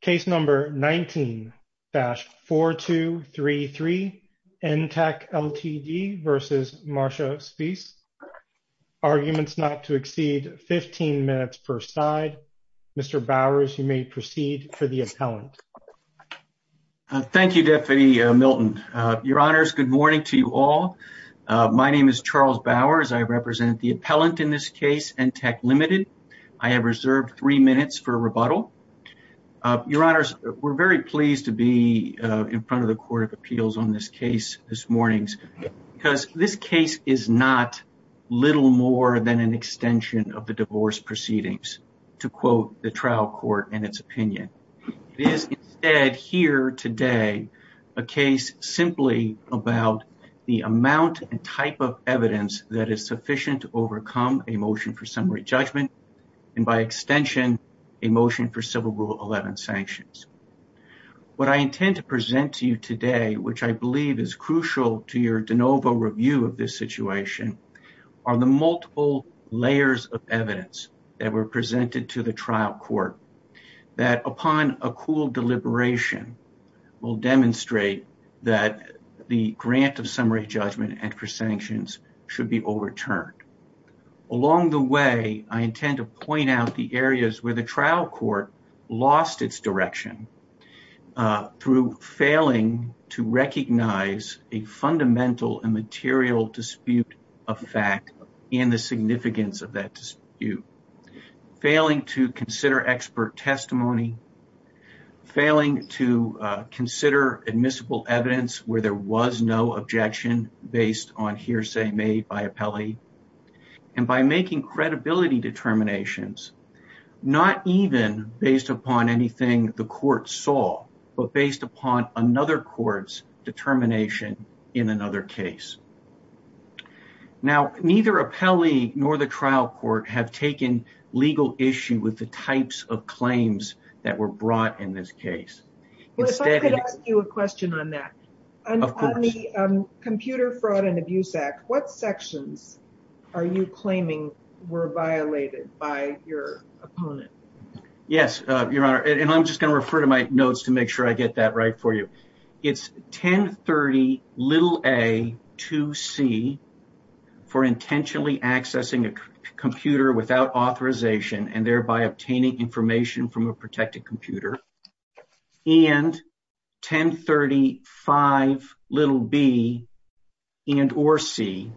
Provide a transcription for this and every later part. Case number 19-4233, NTECH LTD v. Marcia Speece. Arguments not to exceed 15 minutes per side. Mr. Bowers, you may proceed for the appellant. Thank you, Deputy Milton. Your Honors, good morning to you all. My name is Charles Bowers. I represent the appellant in this case, NTECH Ltd. I have reserved three minutes for rebuttal. Your Honors, we're very pleased to be in front of the Court of Appeals on this case this morning because this case is not little more than an extension of the divorce proceedings, to quote the trial court and its opinion. It is instead here today a case simply about the amount and type of evidence that is sufficient to overcome a motion for summary judgment and by extension a motion for Civil Rule 11 sanctions. What I intend to present to you today, which I believe is crucial to your de novo review of this situation, are the multiple layers of evidence that were presented to the trial court that upon a cool deliberation will demonstrate that the grant of summary judgment and for sanctions should be overturned. Along the way, I intend to point out the areas where the trial court lost its direction through failing to recognize a fundamental and material dispute of fact and the significance of that dispute, failing to consider expert testimony, failing to consider admissible evidence where there was no objection based on hearsay made by appellee, and by making credibility determinations not even based upon anything the court saw but based upon another court's determination in another case. Now, neither appellee nor the trial court have taken legal issue with the types of claims that were brought in this case. If I could ask you a question on that. Of course. On the Computer Fraud and Abuse Act, what sections are you claiming were violated by your opponent? Yes, Your Honor, and I'm just going to refer to my notes to make sure I get that right for you. It's 1030a2c for intentionally accessing a computer without authorization and thereby obtaining information from a protected computer, and 1035b and or c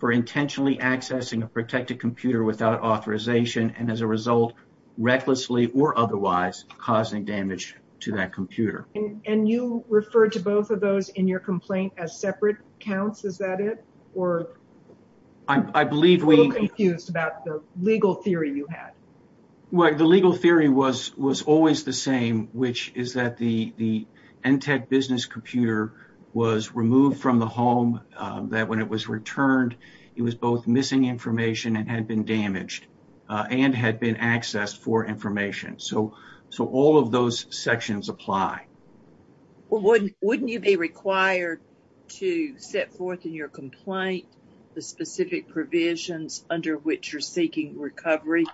for intentionally accessing a protected computer without authorization and as a result, recklessly or otherwise, causing damage to that computer. And you refer to both of those in your complaint as separate counts, is that it? Or are you a little confused about the legal theory you had? Well, the legal theory was always the same, which is that the ENTEC business computer was removed from the home, that when it was returned, it was both missing information and had been damaged and had been accessed for information. So all of those sections apply. Well, wouldn't you be required to set forth in your complaint the specific provisions under which you're seeking recovery?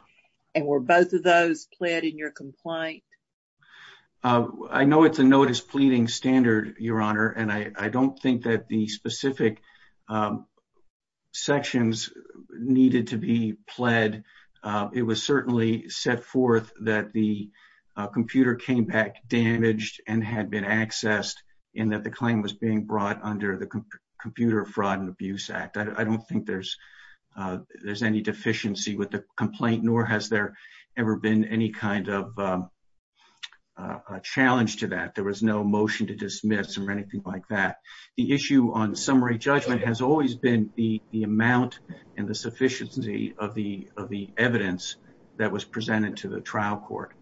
And were both of those pled in your complaint? I know it's a notice pleading standard, Your Honor, and I don't think that the specific sections needed to be pled. It was certainly set forth that the computer came back damaged and had been accessed and that the claim was being brought under the Computer Fraud and Abuse Act. I don't think there's any deficiency with the complaint, nor has there ever been any kind of challenge to that. There was no motion to dismiss or anything like that. The issue on summary judgment has always been the amount and the sufficiency of the evidence that was presented to the trial court.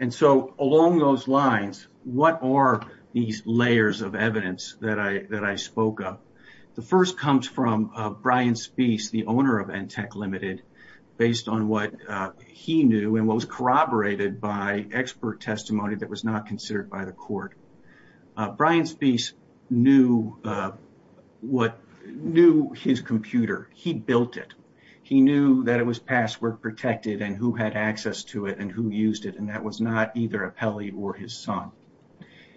And so along those lines, what are these layers of evidence that I spoke of? The first comes from Brian Speece, the owner of ENTEC Limited, based on what he knew and what was corroborated by expert testimony that was not considered by the court. Brian Speece knew his computer. He built it. He knew that it was password protected and who had access to it and who used it, and that was not either Apelli or his son.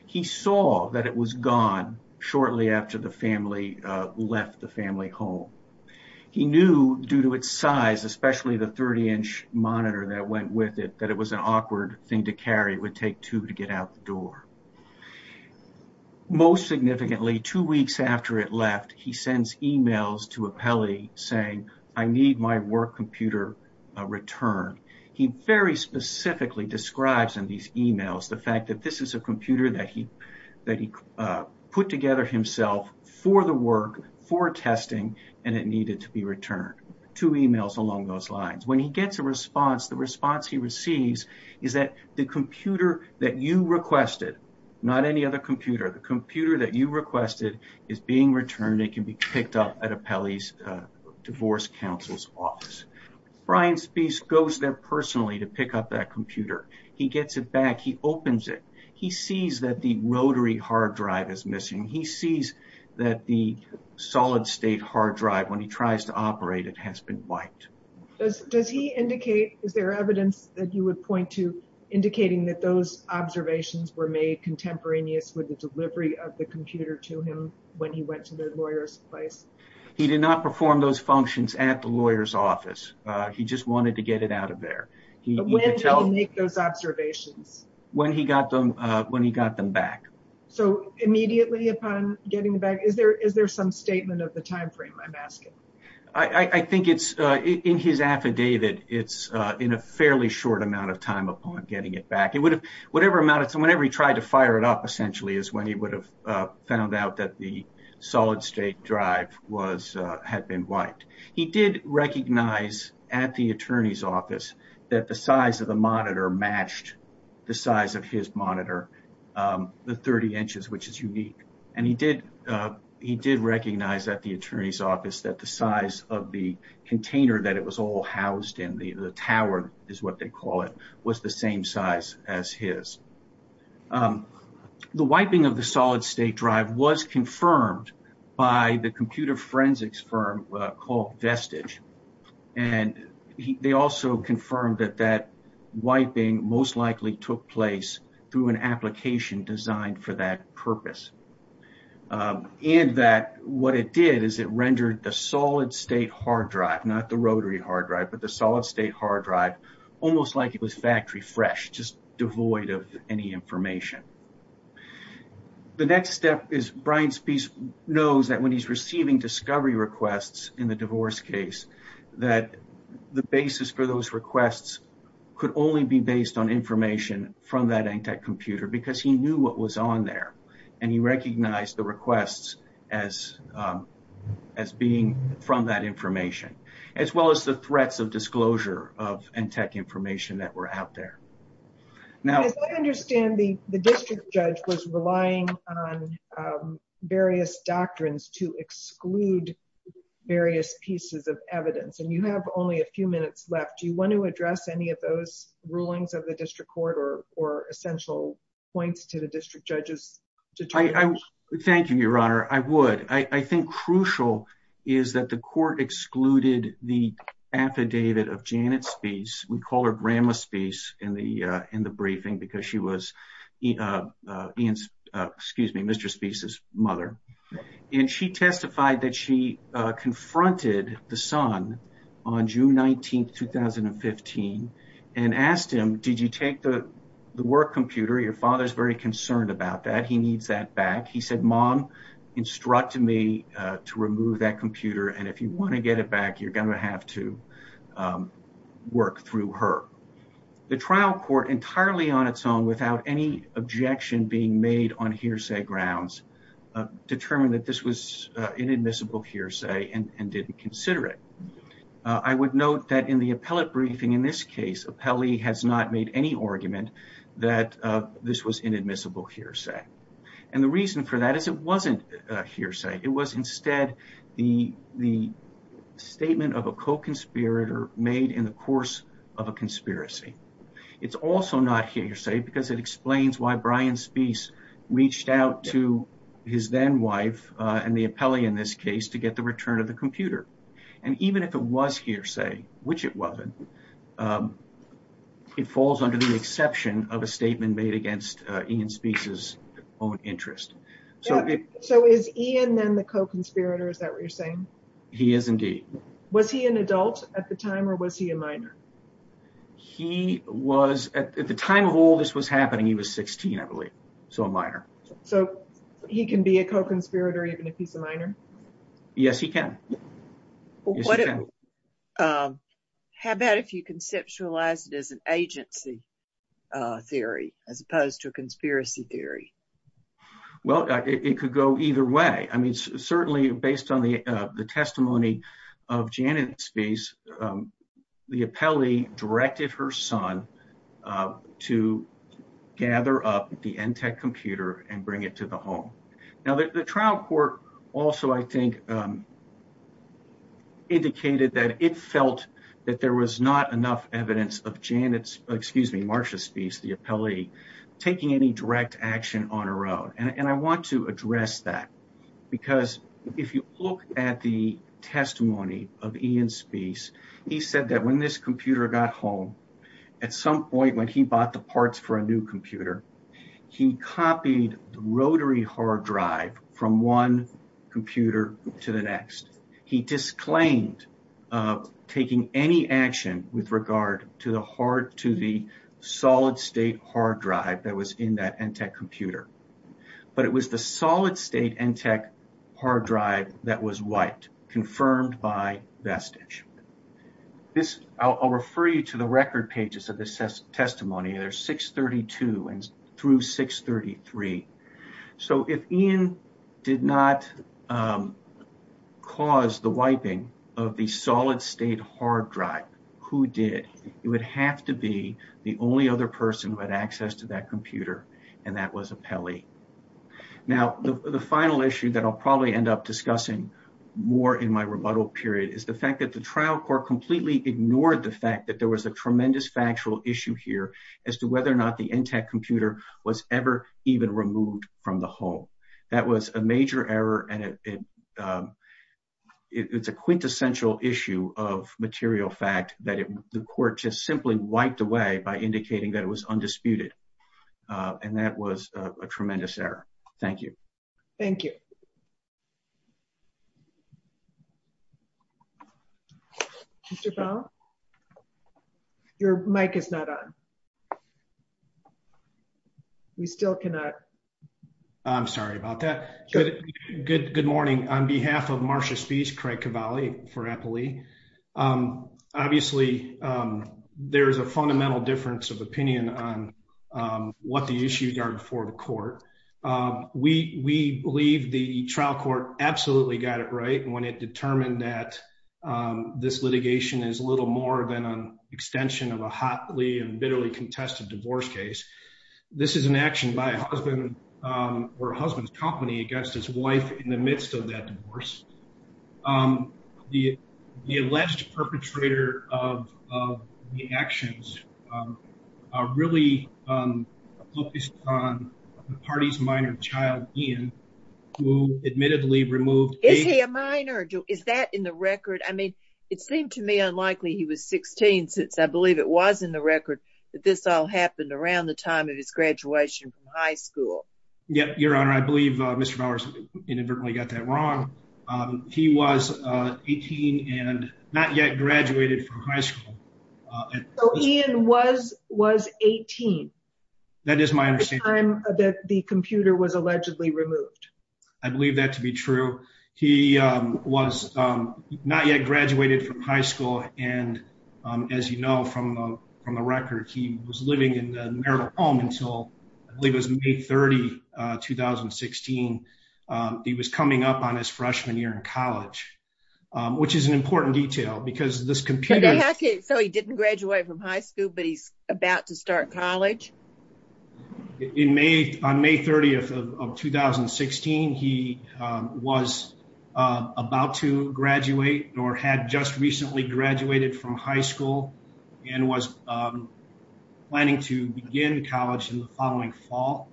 He saw that it was gone shortly after the family left the family home. He knew due to its size, especially the 30-inch monitor that went with it, that it was an awkward thing to carry. It would take two to get out the door. Most significantly, two weeks after it left, he sends e-mails to Apelli saying, I need my work computer returned. He very specifically describes in these e-mails the fact that this is a computer that he put together himself for the work, for testing, and it needed to be returned. Two e-mails along those lines. When he gets a response, the response he receives is that the computer that you requested, not any other computer, the computer that you requested is being returned and can be picked up at Apelli's divorce counsel's office. Brian Speece goes there personally to pick up that computer. He gets it back. He opens it. He sees that the rotary hard drive is missing. He sees that the solid state hard drive, when he tries to operate it, has been wiped. Does he indicate, is there evidence that you would point to indicating that those observations were made contemporaneous with the delivery of the computer to him when he went to the lawyer's place? He did not perform those functions at the lawyer's office. He just wanted to get it out of there. When did he make those observations? When he got them back. So immediately upon getting it back, is there some statement of the time frame, I'm asking? I think it's in his affidavit, it's in a fairly short amount of time upon getting it back. Whatever amount of time, whenever he tried to fire it up, essentially, is when he would have found out that the solid state drive had been wiped. He did recognize at the attorney's office that the size of the monitor matched the size of his monitor. The 30 inches, which is unique. And he did recognize at the attorney's office that the size of the container that it was all housed in, the tower is what they call it, was the same size as his. The wiping of the solid state drive was confirmed by the computer forensics firm called Vestige. And they also confirmed that that wiping most likely took place through an application designed for that purpose. And that what it did is it rendered the solid state hard drive, not the rotary hard drive, but the solid state hard drive almost like it was factory fresh, just devoid of any information. The next step is Brian Spies knows that when he's receiving discovery requests in the divorce case, that the basis for those requests could only be based on information from that Antec computer because he knew what was on there. And he recognized the requests as being from that information, as well as the threats of disclosure of Antec information that were out there. I understand the district judge was relying on various doctrines to exclude various pieces of evidence. And you have only a few minutes left. Do you want to address any of those rulings of the district court or essential points to the district judges? Thank you, Your Honor. I would. I think crucial is that the court excluded the affidavit of Janet Spies. We call her Grandma Spies in the briefing because she was Mr. Spies' mother. And she testified that she confronted the son on June 19th, 2015, and asked him, did you take the work computer? Your father's very concerned about that. He needs that back. He said, Mom, instruct me to remove that computer. And if you want to get it back, you're going to have to work through her. The trial court entirely on its own, without any objection being made on hearsay grounds, determined that this was inadmissible hearsay and didn't consider it. I would note that in the appellate briefing in this case, appellee has not made any argument that this was inadmissible hearsay. And the reason for that is it wasn't hearsay. It was instead the statement of a co-conspirator made in the course of a conspiracy. It's also not hearsay because it explains why Brian Spies reached out to his then wife and the appellee in this case to get the return of the computer. And even if it was hearsay, which it wasn't, it falls under the exception of a statement made against Ian Spies' own interest. So is Ian then the co-conspirator? Is that what you're saying? He is indeed. Was he an adult at the time or was he a minor? He was at the time of all this was happening, he was 16, I believe. So a minor. So he can be a co-conspirator even if he's a minor? Yes, he can. How about if you conceptualize it as an agency theory as opposed to a conspiracy theory? Well, it could go either way. I mean, certainly based on the testimony of Janet Spies, the appellee directed her son to gather up the ENTTEC computer and bring it to the home. Now, the trial court also, I think, indicated that it felt that there was not enough evidence of Janet's, excuse me, Marcia Spies, the appellee, taking any direct action on her own. And I want to address that because if you look at the testimony of Ian Spies, he said that when this computer got home, at some point when he bought the parts for a new computer, he copied the rotary hard drive from one computer to the next. He disclaimed taking any action with regard to the solid state hard drive that was in that ENTTEC computer. But it was the solid state ENTTEC hard drive that was wiped, confirmed by vestige. I'll refer you to the record pages of this testimony. They're 632 through 633. So if Ian did not cause the wiping of the solid state hard drive, who did? It would have to be the only other person who had access to that computer. And that was appellee. Now, the final issue that I'll probably end up discussing more in my rebuttal period is the fact that the trial court completely ignored the fact that there was a tremendous factual issue here as to whether or not the ENTTEC computer was ever even removed from the home. That was a major error. And it's a quintessential issue of material fact that the court just simply wiped away by indicating that it was undisputed. And that was a tremendous error. Thank you. Thank you. Your mic is not on. We still cannot. I'm sorry about that. Good. Good. Good morning. On behalf of Marcia speech, Craig Cavalli for appellee. Obviously, there is a fundamental difference of opinion on what the issues are before the court. We believe the trial court absolutely got it right when it determined that this litigation is little more than an extension of a hotly and bitterly contested divorce case. This is an action by a husband or husband's company against his wife in the midst of that divorce. The alleged perpetrator of the actions are really focused on the party's minor child, Ian, who admittedly removed. Is he a minor? Is that in the record? I mean, it seemed to me unlikely he was 16 since I believe it was in the record that this all happened around the time of his graduation from high school. Yeah. Your Honor, I believe Mr. Powers inadvertently got that wrong. He was 18 and not yet graduated from high school. And was was 18. That is my understanding that the computer was allegedly removed. I believe that to be true. He was not yet graduated from high school. And as you know, from from the record, he was living in the marital home until I believe it was May 30, 2016. He was coming up on his freshman year in college, which is an important detail because this computer. So he didn't graduate from high school, but he's about to start college. In May, on May 30th of 2016, he was about to graduate or had just recently graduated from high school and was planning to begin college in the following fall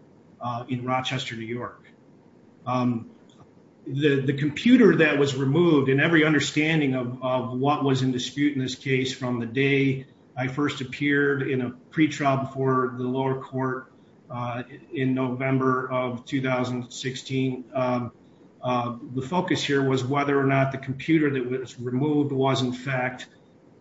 in Rochester, New York. The computer that was removed in every understanding of what was in dispute in this case from the day I first appeared in a pretrial before the lower court in November of 2016. The focus here was whether or not the computer that was removed was, in fact,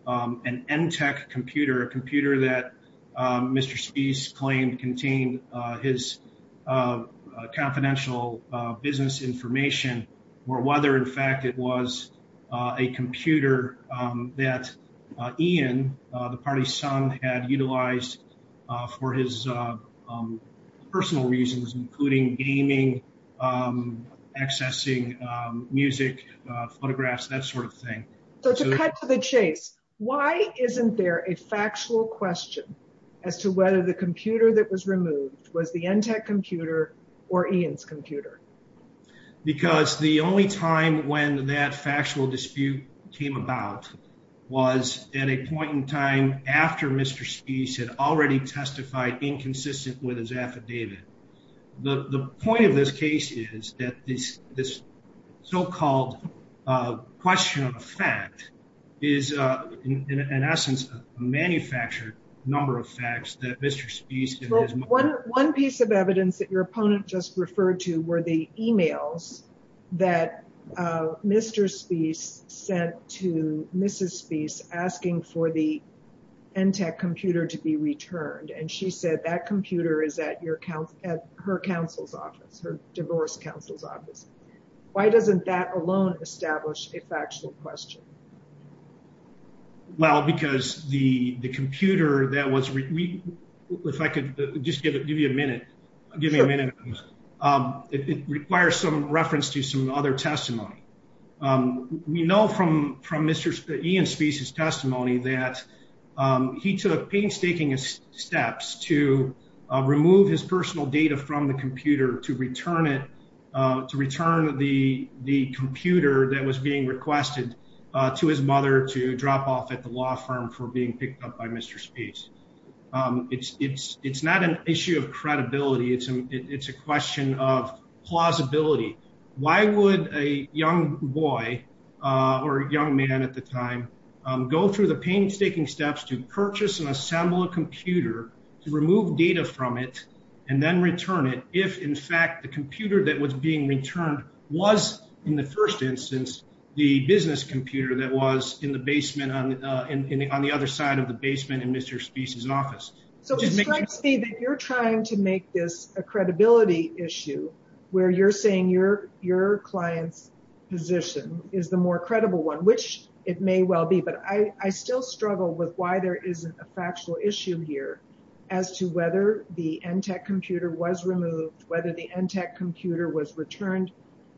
an end tech computer, a computer that Mr. Chase claimed contained his confidential business information or whether, in fact, it was a computer that Ian, the party's son, had utilized for his personal reasons, including gaming, accessing music, photographs, that sort of thing. So to cut to the chase, why isn't there a factual question as to whether the computer that was removed was the end tech computer or Ian's computer? Because the only time when that factual dispute came about was at a point in time after Mr. Chase had already testified inconsistent with his affidavit. The point of this case is that this this so-called question of fact is, in essence, a manufactured number of facts that Mr. One piece of evidence that your opponent just referred to were the emails that Mr. Spies sent to Mrs. Spies asking for the end tech computer to be returned. And she said that computer is at your account at her counsel's office, her divorce counsel's office. Why doesn't that alone establish a factual question? Well, because the computer that was if I could just give you a minute, give me a minute. It requires some reference to some other testimony. We know from from Mr. Ian Spies testimony that he took painstaking steps to remove his personal data from the computer to return it to return the the computer that was being requested to his mother to drop off at the law firm for being picked up by Mr. Spies. It's it's it's not an issue of credibility. It's a it's a question of plausibility. Why would a young boy or young man at the time go through the painstaking steps to purchase and assemble a computer to remove data from it and then return it? If, in fact, the computer that was being returned was in the first instance, the business computer that was in the basement on the other side of the basement in Mr. Spies office. So it strikes me that you're trying to make this a credibility issue where you're saying your your client's position is the more credible one, which it may well be. But I still struggle with why there isn't a factual issue here as to whether the end tech computer was removed, whether the end tech computer was returned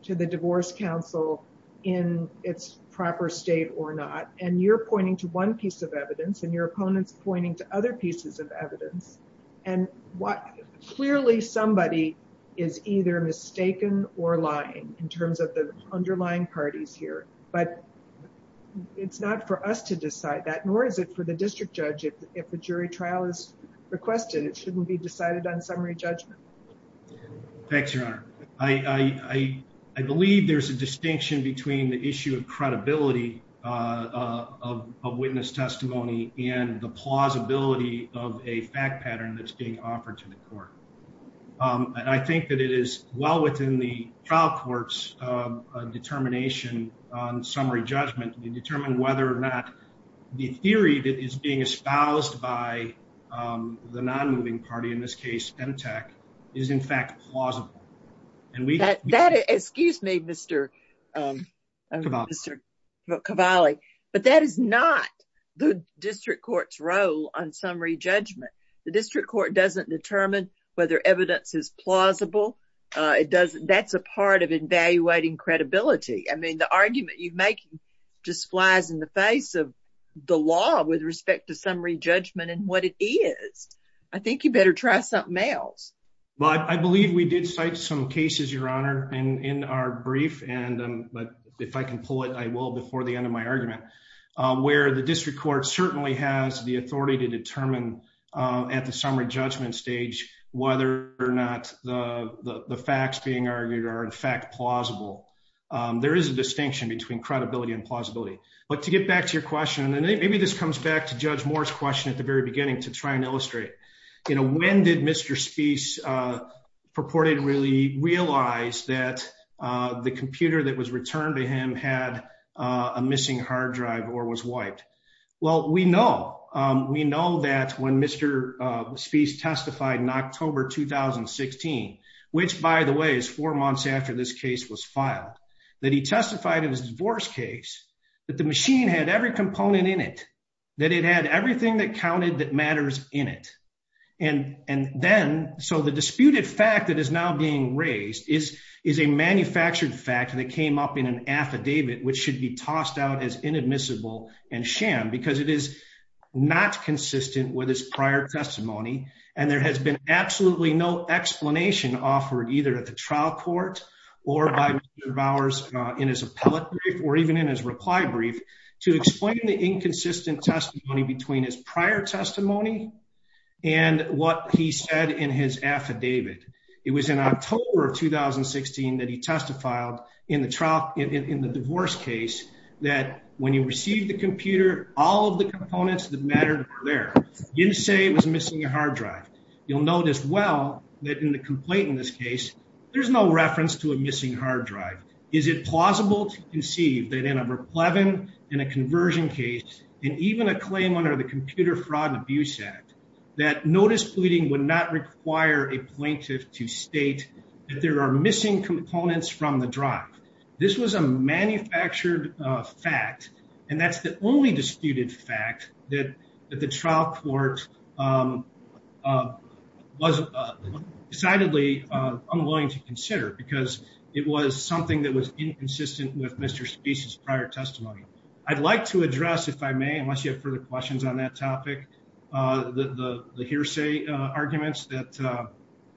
to the divorce counsel in its proper state or not. And you're pointing to one piece of evidence and your opponents pointing to other pieces of evidence. And what clearly somebody is either mistaken or lying in terms of the underlying parties here. But it's not for us to decide that, nor is it for the district judge. If a jury trial is requested, it shouldn't be decided on summary judgment. Thanks, your honor. I, I, I believe there's a distinction between the issue of credibility of witness testimony and the plausibility of a fact pattern that's being offered to the court. And I think that it is well within the trial court's determination on summary judgment to determine whether or not the theory that is being espoused by the non-moving party, in this case, and attack is, in fact, plausible. Excuse me, Mr. Cavalli, but that is not the district court's role on summary judgment. The district court doesn't determine whether evidence is plausible. It doesn't. That's a part of evaluating credibility. I mean, the argument you make just flies in the face of the law with respect to summary judgment and what it is. I think you better try something else. But I believe we did cite some cases, your honor, and in our brief, and if I can pull it, I will before the end of my argument, where the district court certainly has the authority to determine at the summary judgment stage, whether or not the facts being argued are in fact plausible. There is a distinction between credibility and plausibility. But to get back to your question, and maybe this comes back to Judge Moore's question at the very beginning to try and illustrate. You know, when did Mr. Spies purported really realize that the computer that was returned to him had a missing hard drive or was wiped? Well, we know. We know that when Mr. Spies testified in October 2016, which, by the way, is four months after this case was filed, that he testified in his divorce case that the machine had every component in it, that it had everything that counted that matters in it. And then, so the disputed fact that is now being raised is a manufactured fact that came up in an affidavit, which should be tossed out as inadmissible and sham because it is not consistent with his prior testimony. And there has been absolutely no explanation offered either at the trial court or by Mr. Bowers in his appellate brief or even in his reply brief to explain the inconsistent testimony between his prior testimony and what he said in his affidavit. It was in October of 2016 that he testified in the divorce case that when he received the computer, all of the components that mattered were there. He didn't say it was missing a hard drive. You'll notice well that in the complaint in this case, there's no reference to a missing hard drive. Is it plausible to conceive that in a replevin, in a conversion case, and even a claim under the Computer Fraud and Abuse Act, that notice pleading would not require a plaintiff to state that there are missing components from the drive? This was a manufactured fact, and that's the only disputed fact that the trial court was decidedly unwilling to consider because it was something that was inconsistent with Mr. Spee's prior testimony. I'd like to address, if I may, unless you have further questions on that topic, the hearsay arguments that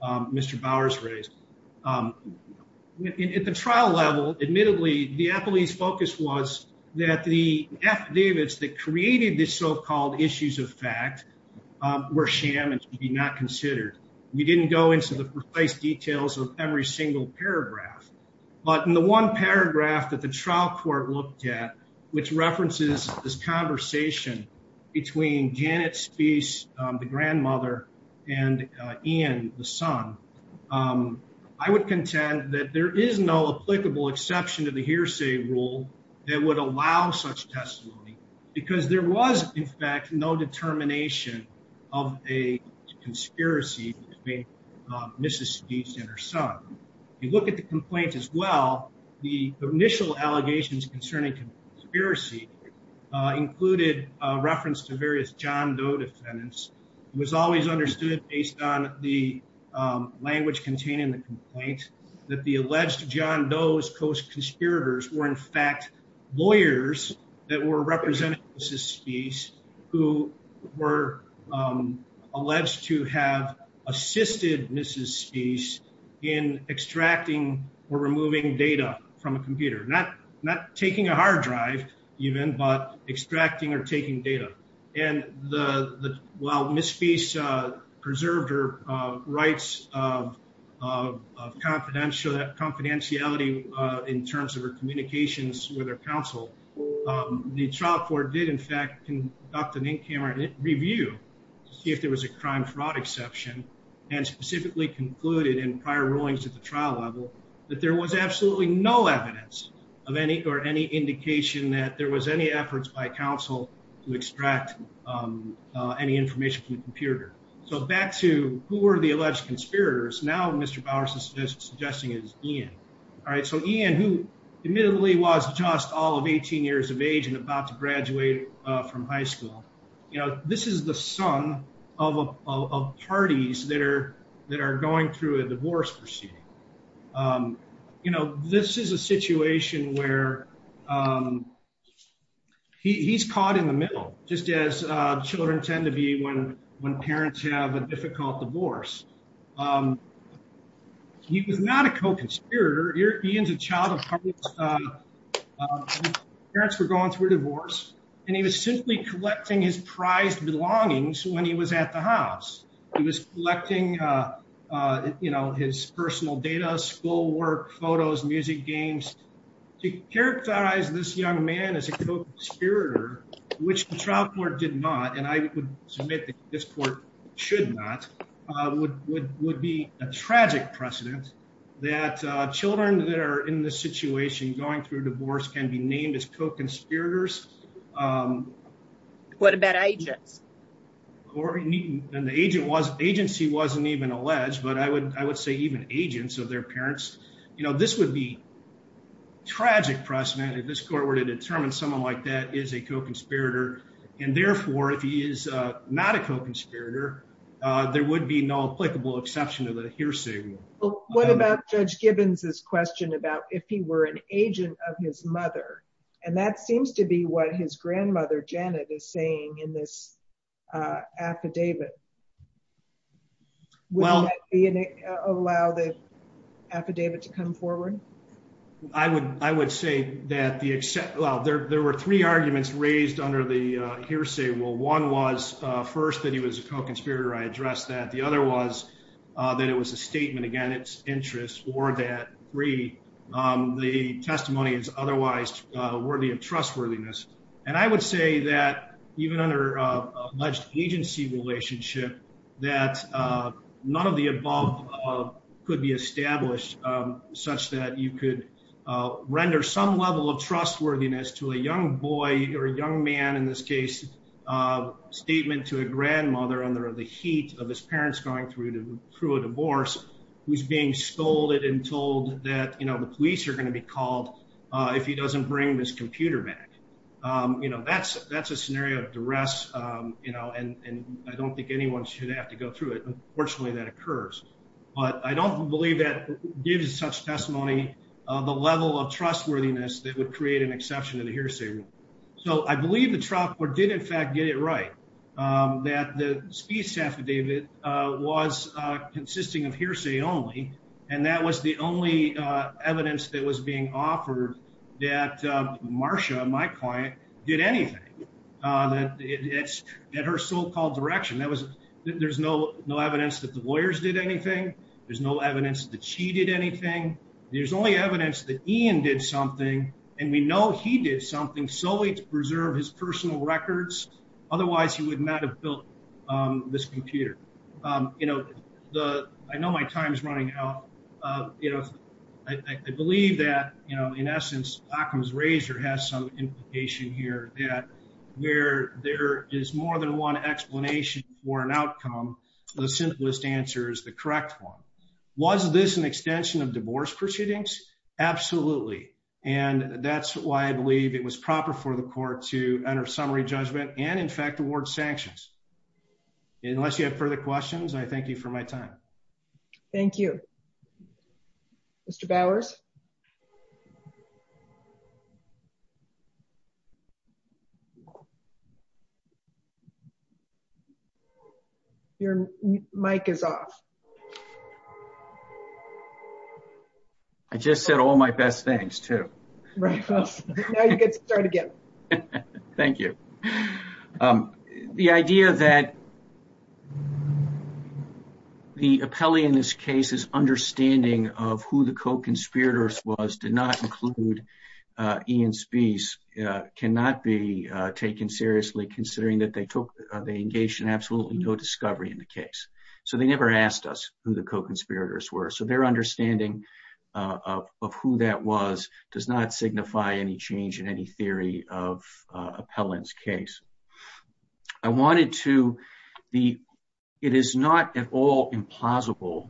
Mr. Bowers raised. At the trial level, admittedly, the appellee's focus was that the affidavits that created this so-called issues of fact were sham and should be not considered. We didn't go into the precise details of every single paragraph, but in the one paragraph that the trial court looked at, which references this conversation between Janet Spee's grandmother and Ian, the son, I would contend that there is no applicable exception to the hearsay rule that would allow such testimony because there was, in fact, no determination of a conspiracy. If you look at the complaint as well, the initial allegations concerning conspiracy included reference to various John Doe defendants. It was always understood, based on the language contained in the complaint, that the alleged John Doe's co-conspirators were, in fact, lawyers that were representing Mrs. Spee, who were alleged to have had an affair with Mrs. Spee. The trial court assisted Mrs. Spee in extracting or removing data from a computer, not taking a hard drive, even, but extracting or taking data. While Mrs. Spee preserved her rights of confidentiality in terms of her communications with her counsel, the trial court did, in fact, conduct an in-camera review to see if there was a crime-fraud exception and specifically concluded in prior rulings at the trial level that there was absolutely no evidence or any indication that there was any efforts by counsel to extract any information from the computer. So back to who were the alleged conspirators, now Mr. Bowers is suggesting it was Ian. All right, so Ian, who admittedly was just all of 18 years of age and about to graduate from high school, this is the son of parties that are going through a divorce proceeding. You know, this is a situation where he's caught in the middle, just as children tend to be when parents have a difficult divorce. He was not a co-conspirator. Ian's a child of parties. Parents were going through a divorce, and he was simply collecting his prized belongings when he was at the house. He was collecting, you know, his personal data, schoolwork, photos, music games, to characterize this young man as a co-conspirator, which the trial court did not, and I would submit that this court should not, would be a tragic precedent that children that are in this situation going through a divorce can be named as co-conspirators. What about agents? The agency wasn't even alleged, but I would say even agents of their parents. You know, this would be a tragic precedent if this court were to determine someone like that is a co-conspirator, and therefore, if he is not a co-conspirator, there would be no applicable exception to the hearsay rule. What about Judge Gibbons' question about if he were an agent of his mother? And that seems to be what his grandmother, Janet, is saying in this affidavit. Well, Would that allow the affidavit to come forward? I would, I would say that the, well, there were three arguments raised under the hearsay rule. One was first that he was a co-conspirator. I addressed that. The other was that it was a statement against interest or that the testimony is otherwise worthy of trustworthiness. And I would say that even under alleged agency relationship, that none of the above could be established such that you could render some level of trustworthiness to a young boy or a young man, in this case, a statement to a grandmother under the heat of his parents going through a divorce, who's being scolded and told that, you know, the police are going to be called if he doesn't bring this computer back. You know, that's, that's a scenario of duress, you know, and I don't think anyone should have to go through it. Unfortunately, that occurs. But I don't believe that gives such testimony, the level of trustworthiness that would create an exception to the hearsay rule. So I believe the trial court did, in fact, get it right, that the speech affidavit was consisting of hearsay only. And that was the only evidence that was being offered that Marcia, my client, did anything. That it's at her so-called direction. That was, there's no, no evidence that the lawyers did anything. There's no evidence that she did anything. There's only evidence that Ian did something. And we know he did something solely to preserve his personal records. Otherwise, he would not have built this computer. You know, I know my time is running out. You know, I believe that, you know, in essence, Occam's razor has some implication here that where there is more than one explanation for an outcome, the simplest answer is the correct one. Was this an extension of divorce proceedings? Absolutely. And that's why I believe it was proper for the court to enter summary judgment and, in fact, award sanctions. Unless you have further questions, I thank you for my time. Thank you. Mr. Bowers. Yes. Your mic is off. I just said all my best things, too. Now you can start again. Thank you. The idea that the appellee in this case's understanding of who the co-conspirators was did not include Ian Speece cannot be taken seriously, considering that they engaged in absolutely no discovery in the case. So they never asked us who the co-conspirators were. So their understanding of who that was does not signify any change in any theory of appellant's case. I wanted to the it is not at all implausible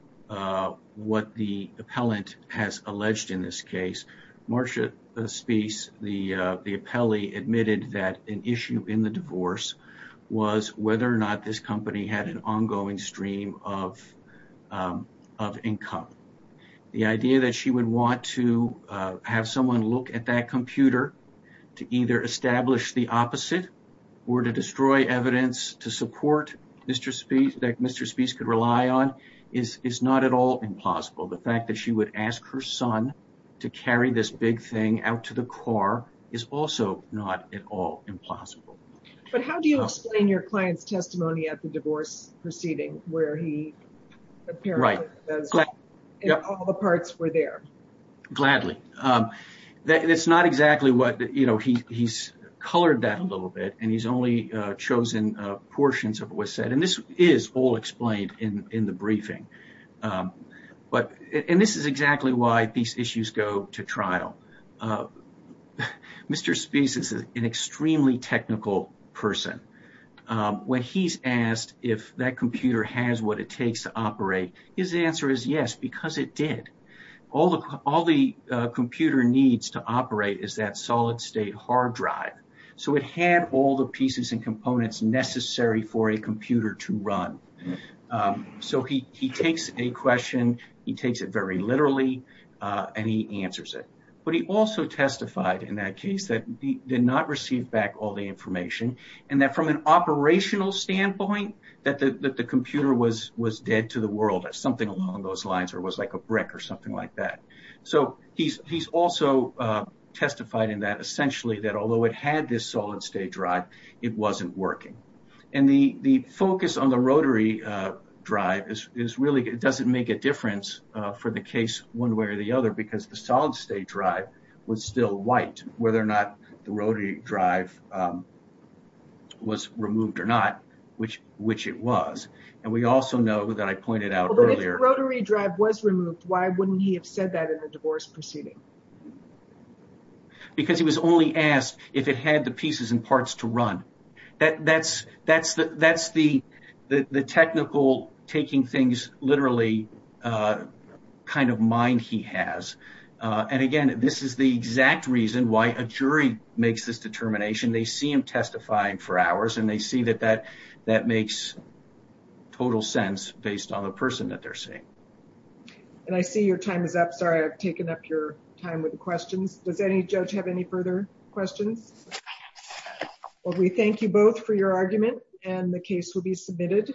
what the appellant has alleged in this case. Marsha Speece, the appellee, admitted that an issue in the divorce was whether or not this company had an ongoing stream of income. The idea that she would want to have someone look at that computer to either establish the opposite or to destroy evidence to support Mr. Speece, that Mr. Speece could rely on, is not at all implausible. The fact that she would ask her son to carry this big thing out to the car is also not at all implausible. But how do you explain your client's testimony at the divorce proceeding where he apparently said all the parts were there? Gladly. It's not exactly what, you know, he's colored that a little bit and he's only chosen portions of what was said. And this is all explained in the briefing. But and this is exactly why these issues go to trial. Mr. Speece is an extremely technical person. When he's asked if that computer has what it takes to operate, his answer is yes, because it did. All the computer needs to operate is that solid state hard drive. So it had all the pieces and components necessary for a computer to run. So he he takes a question. He takes it very literally and he answers it. But he also testified in that case that he did not receive back all the information and that from an operational standpoint, that the computer was was dead to the world. Something along those lines or was like a brick or something like that. So he's he's also testified in that essentially that although it had this solid state drive, it wasn't working. And the the focus on the rotary drive is is really it doesn't make a difference for the case one way or the other, because the solid state drive was still white. Whether or not the rotary drive was removed or not, which which it was. And we also know that I pointed out earlier rotary drive was removed. Why wouldn't he have said that in the divorce proceeding? Because he was only asked if it had the pieces and parts to run. That that's that's that's the the technical taking things literally kind of mind he has. And again, this is the exact reason why a jury makes this determination. They see him testifying for hours and they see that that that makes total sense based on the person that they're seeing. And I see your time is up. Sorry, I've taken up your time with the questions. Does any judge have any further questions? Well, we thank you both for your argument and the case will be submitted.